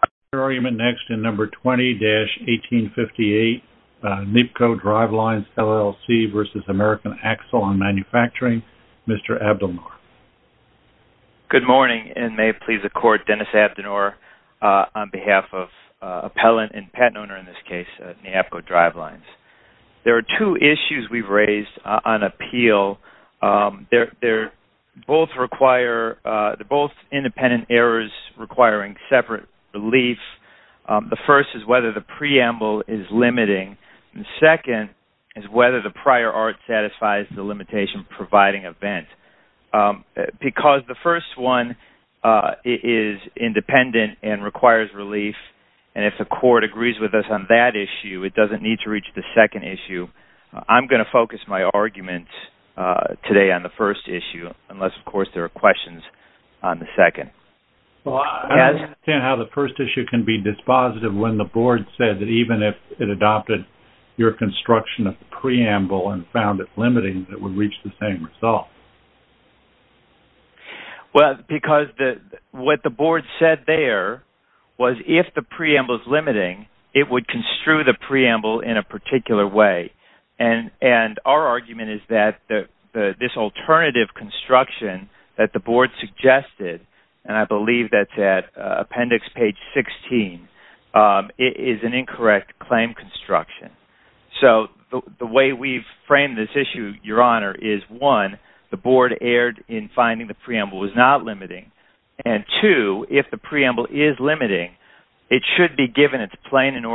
Mr. Abdelnour. Good morning, and may it please the Court, Dennis Abdelnour on behalf of Appellant and Patent Owner in this case, Neapco Drivelines. There are two issues we've raised on appeal. They're both independent errors requiring separate relief. The first is whether the preamble is limiting. The second is whether the prior art satisfies the limitation providing event. Because the first one is independent and requires relief, and if the Court agrees with us on that I'm going to focus my argument today on the first issue, unless of course there are questions on the second. I don't understand how the first issue can be dispositive when the Board said that even if it adopted your construction of the preamble and found it limiting, it would reach the same result. What the Board said there was if the preamble is limiting, it would construe the preamble in a particular way, and our argument is that this alternative construction that the Board suggested, and I believe that's at appendix page 16, is an incorrect claim construction. So the way we've framed this issue, Your Honor, is one, the Board erred in finding the preamble was not limiting, and two, if the preamble is limiting, it should be given its plain and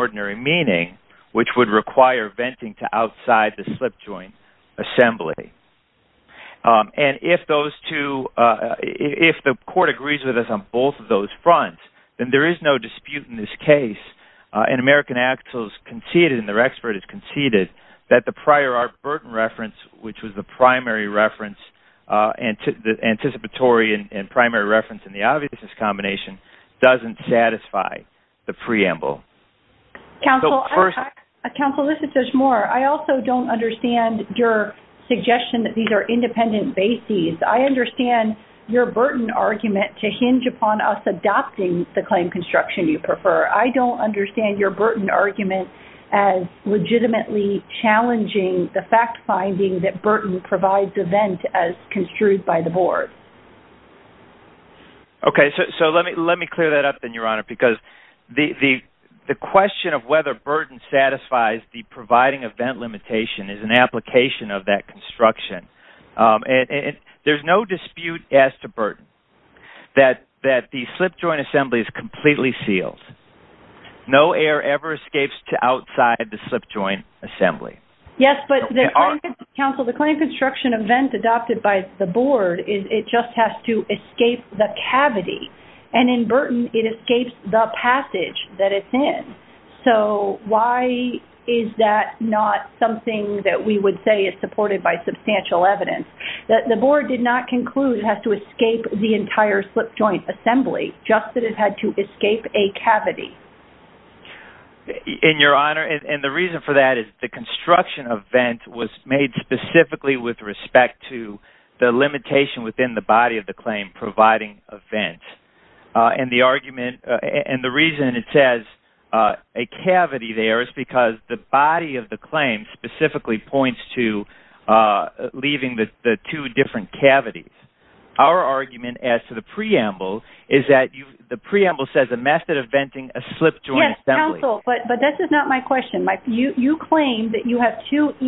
which would require venting to outside the slip joint assembly. And if those two, if the Court agrees with us on both of those fronts, then there is no dispute in this case, and American Axles conceded, and their expert has conceded, that the prior art burden reference, which was the primary reference, anticipatory and primary reference in the obviousness combination, doesn't satisfy the preamble. Counsel, this is Judge Moore. I also don't understand your suggestion that these are independent bases. I understand your burden argument to hinge upon us adopting the claim construction you prefer. I don't understand your burden argument as legitimately challenging the fact finding that burden provides event as construed by the Board. Okay, so let me clear that up then, Your Honor, because the question of whether burden satisfies the providing event limitation is an application of that construction. And there's no dispute as to burden that the slip joint assembly is completely sealed. No air ever escapes to outside the slip joint assembly. Yes, but Counsel, the claim construction event adopted by the Board, it just has to escape the cavity. And in burden, it escapes the passage that it's in. So, why is that not something that we would say is supported by substantial evidence? That the Board did not conclude it has to escape the entire slip joint assembly, just that it had to escape a cavity. And, Your Honor, and the reason for that is the construction event was made specifically with respect to the limitation within the body of the claim providing event. And the argument and the reason it says a cavity there is because the body of the claim specifically points to leaving the two different cavities. Our argument as to the preamble is that the preamble says a method of venting a slip joint assembly. Yes, Counsel, but this is not my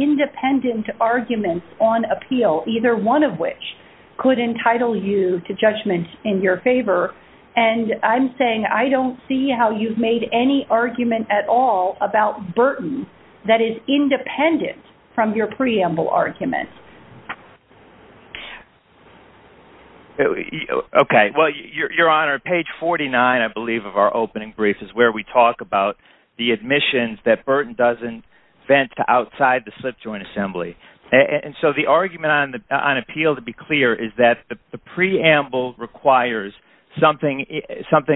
independent argument on appeal, either one of which could entitle you to judgment in your favor. And I'm saying I don't see how you've made any argument at all about burden that is independent from your preamble argument. Okay. Well, Your Honor, page 49, I believe of our opening brief is where we talk about the admissions that Burton doesn't vent outside the slip joint assembly. And so, the argument on appeal, to be clear, is that the preamble requires something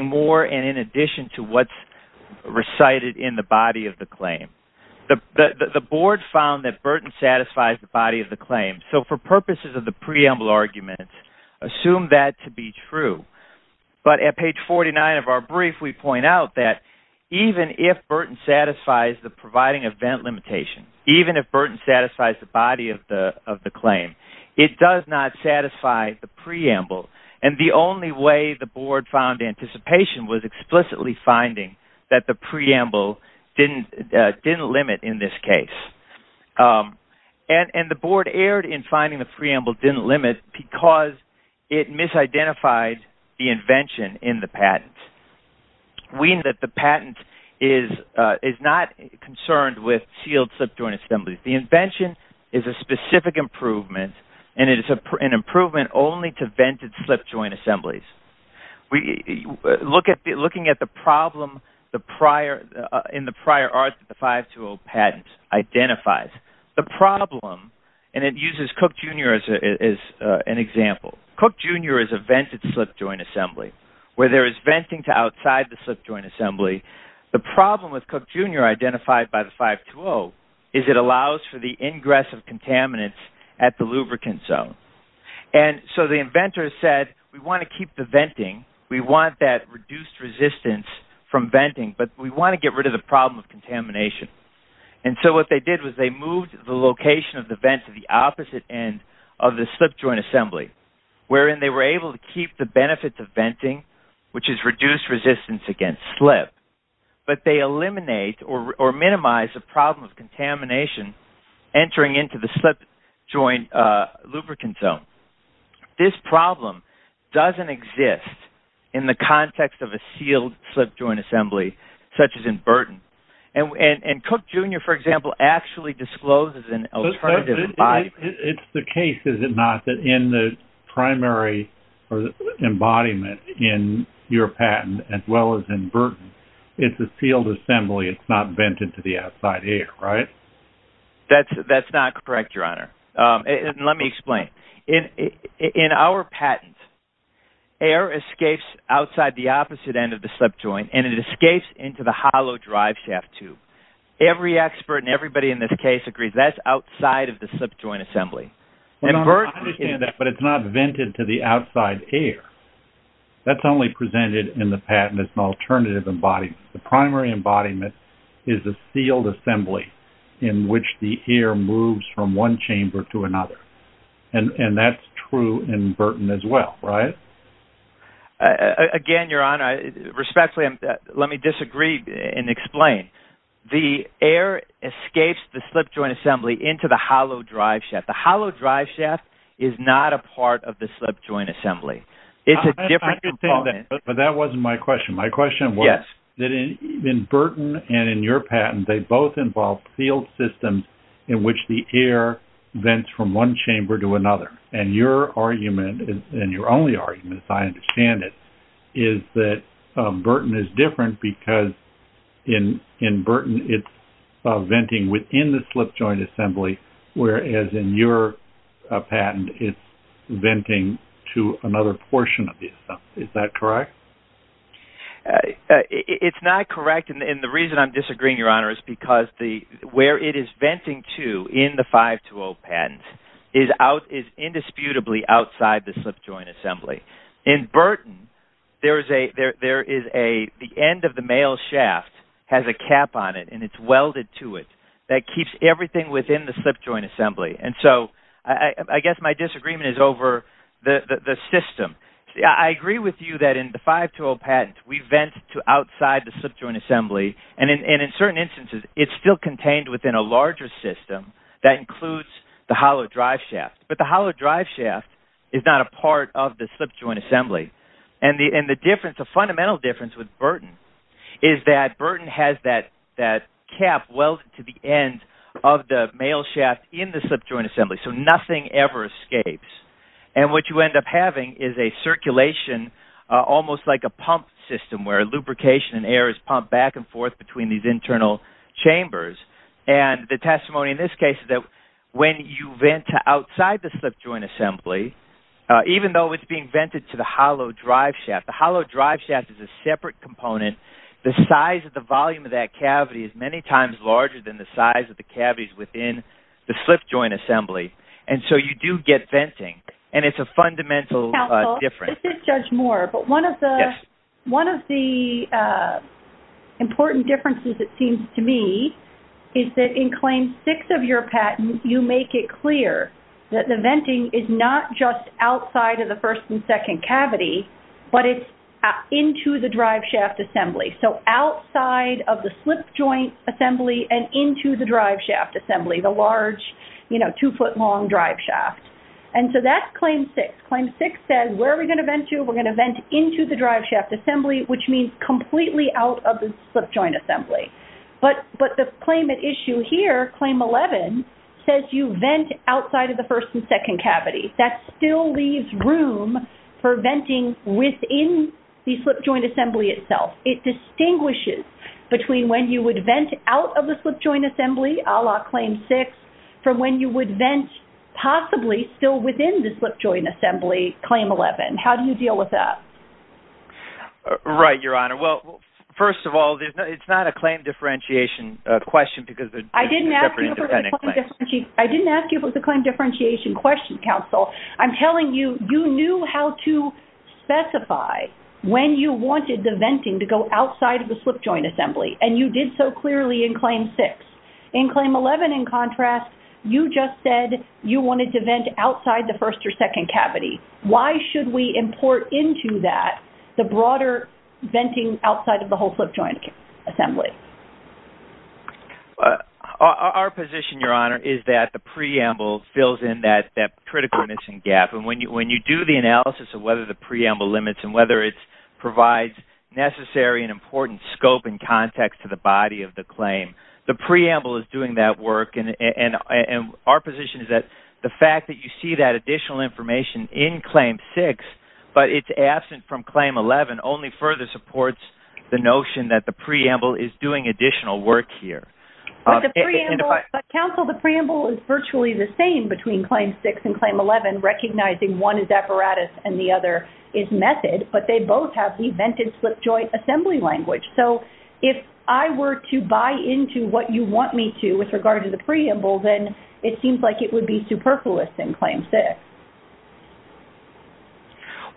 more and in addition to what's recited in the body of the claim. The Board found that Burton satisfies the body of the claim. So, for purposes of the preamble argument, assume that to be true. But at page 49 of our brief, we point out that even if Burton satisfies the providing of vent limitation, even if Burton satisfies the body of the claim, it does not satisfy the preamble. And the only way the Board found anticipation was explicitly finding that the preamble didn't limit in this case. And the Board erred in finding the preamble didn't limit because it misidentified the invention in the patent. We know that the patent is not concerned with sealed slip joint assemblies. The invention is a specific improvement and it is an improvement only to vented slip joint assemblies. Looking at the problem in the prior art that the 520 patent identifies, the problem, and it uses Cook, Jr. as an example. Cook, Jr. is a vented slip joint assembly where there is venting to outside the slip joint assembly. The problem with Cook, Jr. identified by the 520 is it allows for the ingress of contaminants at the lubricant zone. And so the inventor said, we want to keep the venting. We want that reduced resistance from venting, but we want to get rid of the problem of contamination. And so what they did was they moved the location of the vent to the opposite end of the slip joint assembly, wherein they were able to keep the benefits of venting, which is reduced resistance against slip, but they eliminate or minimize the problem of contamination entering into the slip joint lubricant zone. This problem doesn't exist in the context of a sealed slip joint assembly, such as in Burton. And Cook, Jr., for example, actually discloses an alternative embodiment. It's the case, is it not, that in the primary embodiment in your patent, as well as in Burton, it's a sealed assembly. It's not vented to the outside air, right? That's not correct, Your Honor. Let me explain. In our patent, air escapes outside the opposite end of the slip joint, and it escapes into the hollow driveshaft tube. Every expert and everybody in this case agrees that's outside of the slip joint assembly. I understand that, but it's not vented to the outside air. That's only presented in the patent as an alternative embodiment. The primary embodiment is a sealed assembly in which the air moves from one chamber to another, and that's true in Burton as well, right? Again, Your Honor, respectfully, let me disagree and explain. The air escapes the slip joint assembly into the hollow driveshaft. The hollow driveshaft is not a part of the slip joint assembly. It's a different component. I understand that, but that wasn't my question. My question was that in Burton and in your patent, they both involve sealed systems in which the air vents from one chamber to another, and your argument, and your only argument, as I understand it, is that Burton is different because in Burton, it's venting within the slip joint assembly, whereas in your patent, it's venting to another portion of the assembly. Is that correct? It's not correct, and the reason I'm disagreeing, Your Honor, is because where it is venting to in the 520 patent is indisputably outside the slip joint assembly. In Burton, the end of the mail shaft has a cap on it, and it's welded to it. That keeps everything within the slip joint assembly, and so I guess my disagreement is over the system. I agree with you that in the 520 patent, we vent to outside the slip joint assembly, and in certain instances, it's still contained within a larger system that includes the hollow driveshaft, but the hollow driveshaft is not a part of the slip joint assembly, and the fundamental difference with Burton is that Burton has that cap welded to the end of the mail shaft in the slip joint assembly, so nothing ever escapes, and what you end up having is a circulation almost like a pump system where lubrication and air is pumped back and forth between these internal chambers, and the testimony in this case is that when you vent to outside the slip joint assembly, even though it's being vented to the hollow driveshaft, the hollow driveshaft is a separate component. The size of the volume of that cavity is many times larger than the size of the cavities within the slip joint assembly, and so you do get venting, and it's a fundamental difference. Judge Moore, but one of the important differences, it seems to me, is that in Claim 6 of your patent, you make it clear that the venting is not just outside of the first and second cavity, but it's into the driveshaft assembly, so outside of the slip joint assembly and into the driveshaft assembly, the large, you know, two foot long driveshaft, and so that's Claim 6. Claim 6 says where are we going to vent to? We're going to vent into the driveshaft assembly, which means completely out of the slip joint assembly, but the claim at issue here, Claim 11, says you vent outside of the first and second cavity. That still leaves room for venting within the slip joint assembly itself. It distinguishes between when you would vent out of the slip joint assembly, a la Claim 6, from when you would vent possibly still within the slip joint assembly, Claim 11. How do you deal with that? Right, Your Honor. Well, first of all, it's not a claim differentiation question because they're separate independent claims. I didn't ask you if it was a claim differentiation question, counsel. I'm telling you, you knew how to specify when you wanted the Claim 11. In contrast, you just said you wanted to vent outside the first or second cavity. Why should we import into that the broader venting outside of the whole slip joint assembly? Our position, Your Honor, is that the preamble fills in that critical missing gap, and when you do the analysis of whether the preamble limits and whether it provides necessary and important scope and context to the body of the claim, the preamble is doing that work. Our position is that the fact that you see that additional information in Claim 6, but it's absent from Claim 11, only further supports the notion that the preamble is doing additional work here. But counsel, the preamble is virtually the same between Claim 6 and Claim 11, recognizing one is apparatus and the other is method, but they both have the vented slip joint assembly language. So if I were to buy into what you want me to with regard to the preamble, then it seems like it would be superfluous in Claim 6.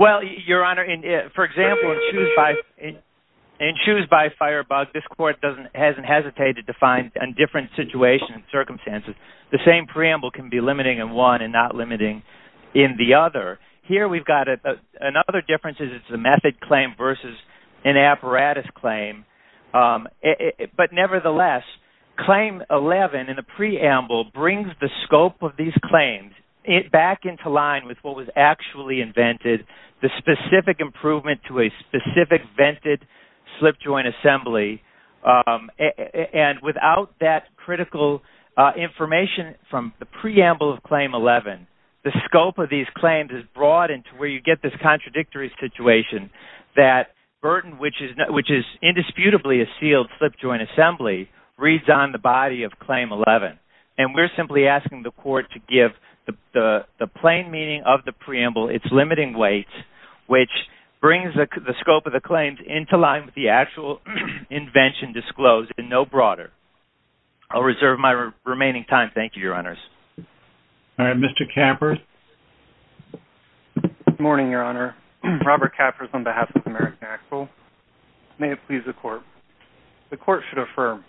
Well, Your Honor, for example, in shoes by firebug, this court hasn't hesitated to find a different situation and circumstances. The same preamble can be limiting in one and not limiting in the other. Here, we've got another difference. It's a method claim versus an apparatus claim. But nevertheless, Claim 11 in the preamble brings the scope of these claims back into line with what was actually invented, the specific improvement to a specific vented slip joint assembly. And without that critical information from the preamble of Claim 11, the scope of these claims is broadened to where you get this contradictory situation that burden, which is indisputably a sealed slip joint assembly, reads on the body of Claim 11. And we're simply asking the court to give the plain meaning of the preamble its limiting weight, which brings the scope of the claims into line with the actual invention disclosed and no broader. I'll reserve my remaining time. Thank you, Your Honors. All right, Mr. Kappers. Good morning, Your Honor. Robert Kappers on behalf of the American Actual. May it please the court. The court should affirm.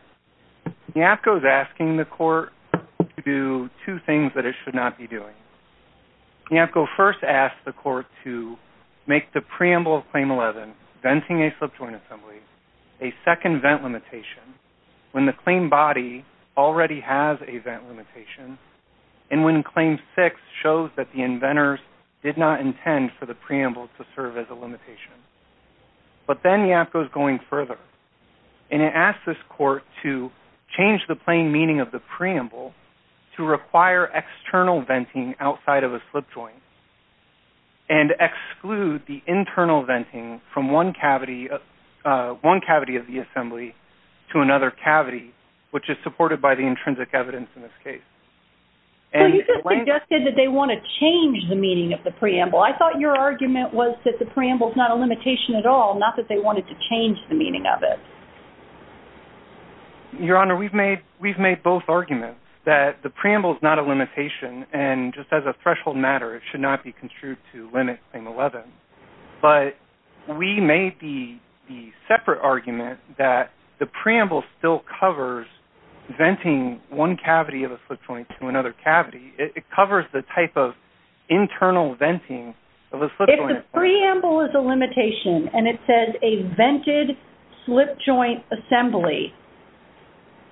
NAPCO is asking the court to do two things that it should not be doing. NAPCO first asked the court to make the preamble of Claim 11, venting a slip joint assembly, a second vent limitation when the claim body already has a slip joint. And when Claim 6 shows that the inventors did not intend for the preamble to serve as a limitation. But then NAPCO is going further and it asks this court to change the plain meaning of the preamble to require external venting outside of a slip joint and exclude the internal venting from one cavity of the assembly to another cavity, which is supported by the intrinsic evidence in this case. So you just suggested that they want to change the meaning of the preamble. I thought your argument was that the preamble is not a limitation at all, not that they wanted to change the meaning of it. Your Honor, we've made both arguments that the preamble is not a limitation and just as a threshold matter, it should not be construed to limit Claim 11. But we made the separate argument that the preamble still covers venting one cavity of a slip joint to another cavity. It covers the type of internal venting of a slip joint. If the preamble is a limitation and it says a vented slip joint assembly,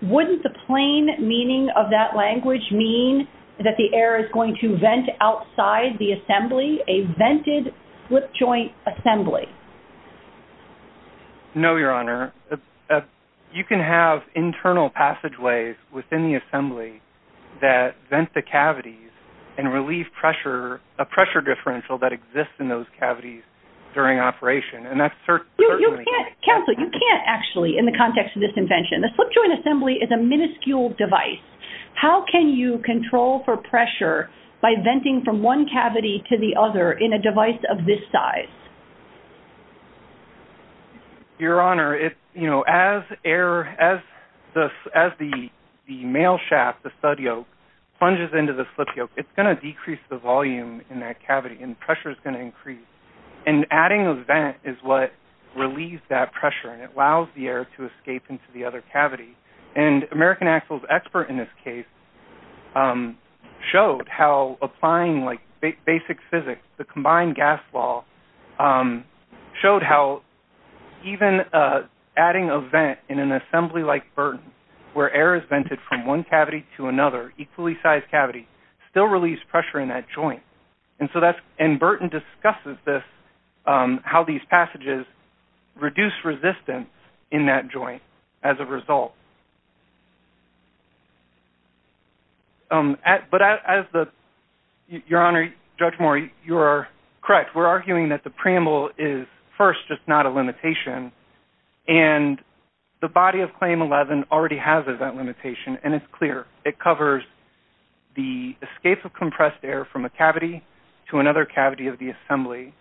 wouldn't the plain meaning of that language mean that the air is going to vent outside the assembly, a vented slip joint assembly? No, Your Honor. You can have internal passageways within the assembly that vent the cavities and relieve pressure, a pressure differential that exists in those cavities during operation. And that's certainly... Counsel, you can't actually in the context of this invention. The slip joint assembly is a minuscule device. How can you control for pressure by venting from one cavity to the other in a device of this size? Your Honor, as the mail shaft, the stud yoke plunges into the slip yoke, it's going to decrease the volume in that cavity and pressure is going to increase. And adding a vent is what relieves that pressure and it allows the air to escape into the other cavity. And American Axles expert in this case showed how applying like basic physics, the combined gas law showed how even adding a vent in an assembly like Burton, where air is vented from one cavity to another equally sized cavity, still release pressure in that joint. And Burton discusses this, how these passages reduce resistance in that joint as a result. But as the... Your Honor, Judge Moore, you are correct. We're arguing that the preamble is first, just not a limitation. And the body of claim 11 already has a vent limitation and it's clear. It covers the escape of compressed air from a cavity to another cavity of the assembly.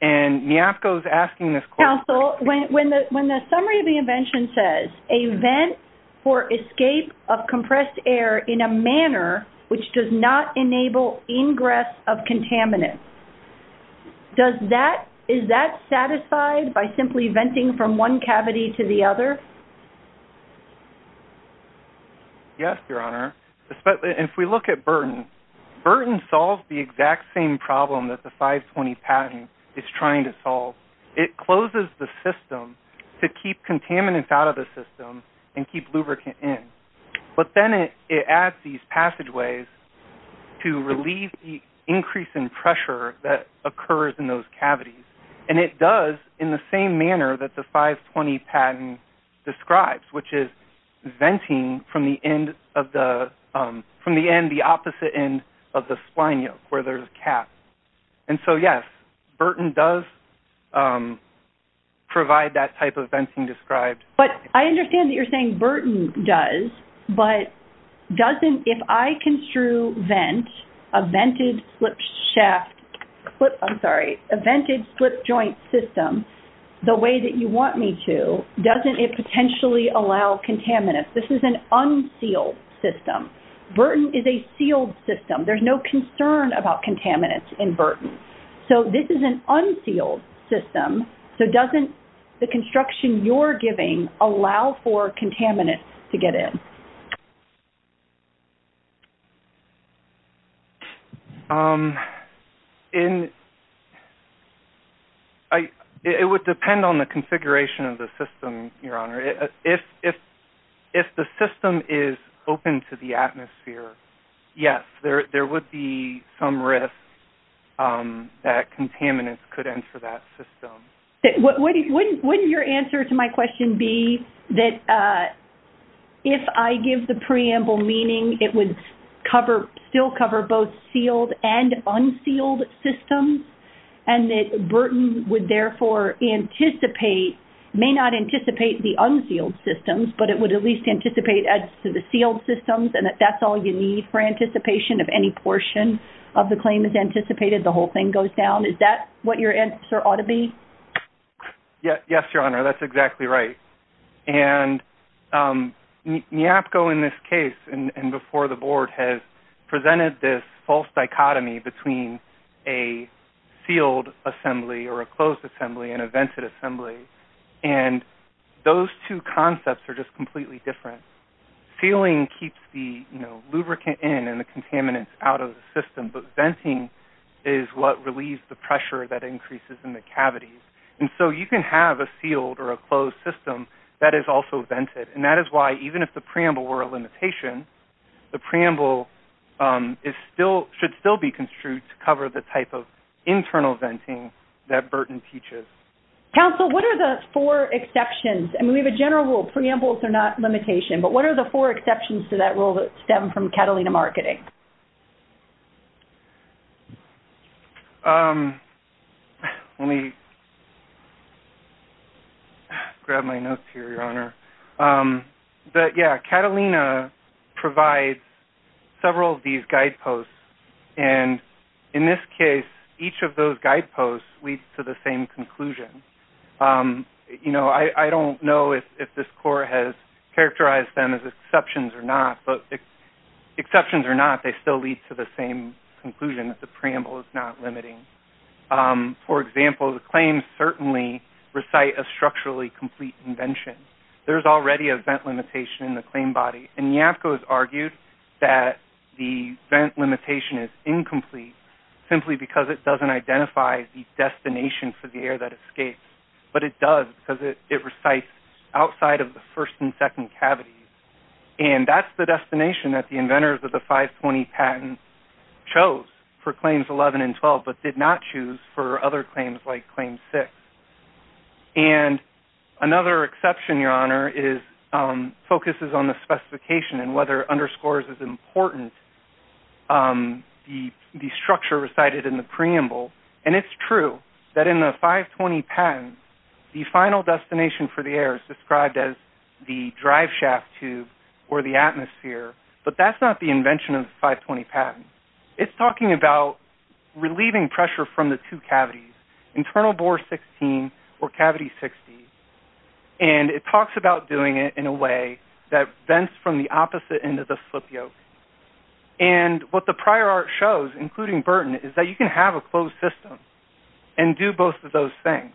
And Niafco is asking this question... Counsel, when the summary of the invention says, a vent for escape of compressed air in a manner which does not enable ingress of contaminants, is that satisfied by simply venting from one cavity to the other? Yes, Your Honor. If we look at Burton, Burton solves the exact same problem that the 520 patent is trying to solve. It closes the system to keep contaminants out of the system and keep lubricant in. But then it adds these passageways to relieve the increase in pressure that occurs in those describes, which is venting from the end of the... From the end, the opposite end of the spline yoke where there's a cap. And so, yes, Burton does provide that type of venting described. But I understand that you're saying Burton does, but doesn't... If I construe vent, a vented slip shaft... I'm sorry, a vented slip joint system the way that you want me to, doesn't it potentially allow contaminants? This is an unsealed system. Burton is a sealed system. There's no concern about contaminants in Burton. So this is an unsealed system. So doesn't the construction you're giving allow for contaminants to get in? Um, in... It would depend on the configuration of the system, Your Honor. If the system is open to the atmosphere, yes, there would be some risk that contaminants could enter that system. Wouldn't your answer to my question be that if I give the preamble meaning it would cover... Still cover both sealed and unsealed systems and that Burton would therefore anticipate... May not anticipate the unsealed systems, but it would at least anticipate as to the sealed systems and that that's all you need for anticipation of any portion of the claim is anticipated, the whole thing goes down. Is that what your answer ought to be? Yeah. Yes, Your Honor. That's exactly right. And, um, NEAPCO in this case and before the board has presented this false dichotomy between a sealed assembly or a closed assembly and a vented assembly. And those two concepts are just completely different. Sealing keeps the, you know, lubricant in and the contaminants out of the system, but venting is what relieves the and so you can have a sealed or a closed system that is also vented. And that is why even if the preamble were a limitation, the preamble is still, should still be construed to cover the type of internal venting that Burton teaches. Counsel, what are the four exceptions? I mean, we have a general rule. Preambles are not limitation, but what are the four exceptions to that rule that stem from Catalina marketing? Um, let me grab my notes here, Your Honor. Um, but yeah, Catalina provides several of these guide posts. And in this case, each of those guide posts leads to the same conclusion. Um, you know, I don't know if this court has characterized them as exceptions or not, but exceptions or not, they still lead to the same conclusion that the preamble is not limiting. Um, for example, the claims certainly recite a structurally complete invention. There's already a vent limitation in the claim body. And Yapko has argued that the vent limitation is incomplete simply because it doesn't identify the destination for the air that escapes, but it does because it recites outside of the first and second cavity. And that's the destination that the inventors of the 520 patent chose for claims 11 and 12, but did not choose for other claims like claim six. And another exception, Your Honor, is, um, focuses on the specification and whether underscores is important, um, the, the structure recited in the preamble. And it's true that in the 520 patent, the final destination for the air is described as the drive shaft tube or the atmosphere, but that's not the invention of the 520 patent. It's talking about relieving pressure from the two cavities, internal bore 16 or cavity 60. And it talks about doing it in a way that vents from the opposite end of the slip yoke. And what the prior art shows, including Burton is that you can have a closed system and do both of those things.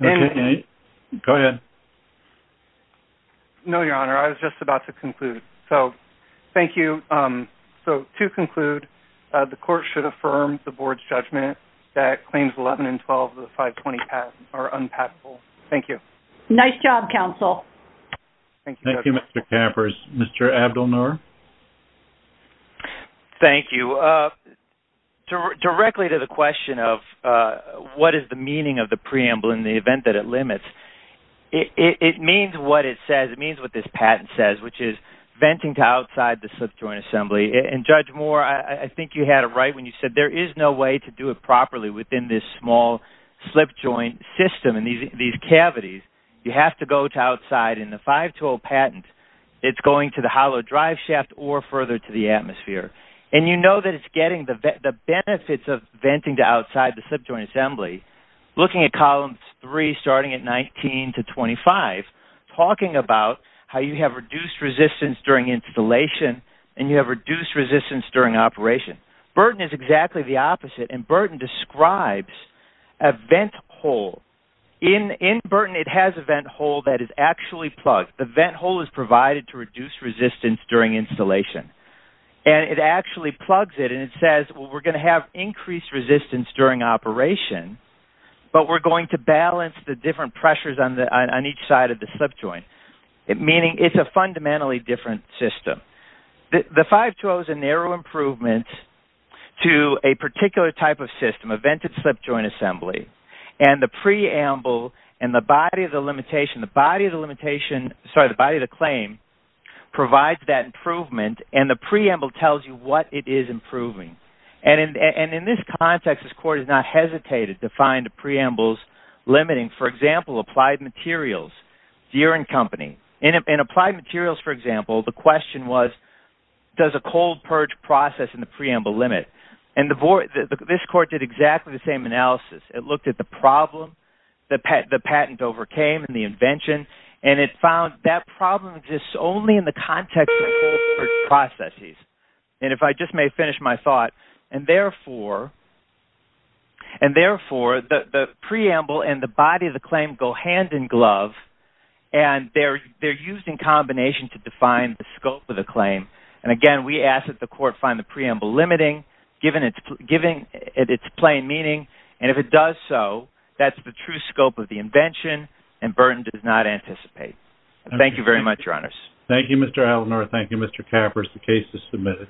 Go ahead. No, Your Honor. I was just about to conclude. So thank you. Um, so to conclude, the court should affirm the board's judgment that claims 11 and 12 of the 520 path are unpackable. Thank you. Nice job, counsel. Thank you, Mr. Kappers. Mr. Abdelnour. Thank you. Uh, directly to the question of, uh, what is the meaning of the preamble in the event that it limits? It means what it says. It means what this patent says, which is venting to outside the slip joint assembly. And judge Moore, I think you had a right when you said there is no way to cavities. You have to go to outside in the five tool patent. It's going to the hollow drive shaft or further to the atmosphere. And you know that it's getting the benefits of venting to outside the slip joint assembly, looking at columns three, starting at 19 to 25, talking about how you have reduced resistance during installation and you have reduced resistance during operation. Burton is exactly the opposite. And Burton describes a vent hole in, in Burton. It has a vent hole that is actually plugged. The vent hole is provided to reduce resistance during installation and it actually plugs it. And it says, well, we're going to have increased resistance during operation, but we're going to balance the different pressures on the, on each side of the slip joint. Meaning it's a fundamentally different system. The five tool is a narrow improvement to a particular type of system, a vented slip joint assembly. And the preamble and the body of the limitation, the body of the limitation, sorry, the body of the claim provides that improvement and the preamble tells you what it is improving. And in this context, this court has not hesitated to find a preamble limiting, for example, applied materials, year and company and applied materials. For example, the question was, does a cold purge process in the preamble limit and the board, this court did exactly the same analysis. It looked at the problem, the patent, the patent overcame and the invention. And it found that problem exists only in the context of processes. And if I just may finish my thought and therefore, and therefore the preamble and the body of the claim go hand in glove and they're, they're used in combination to define the scope of the claim. And again, we ask that the court find the preamble limiting given it's giving it's plain meaning. And if it does so that's the true scope of the invention and Burton does not anticipate. Thank you very much. Thank you, Mr. Eleanor. Thank you, Mr. Kappers. The case is submitted.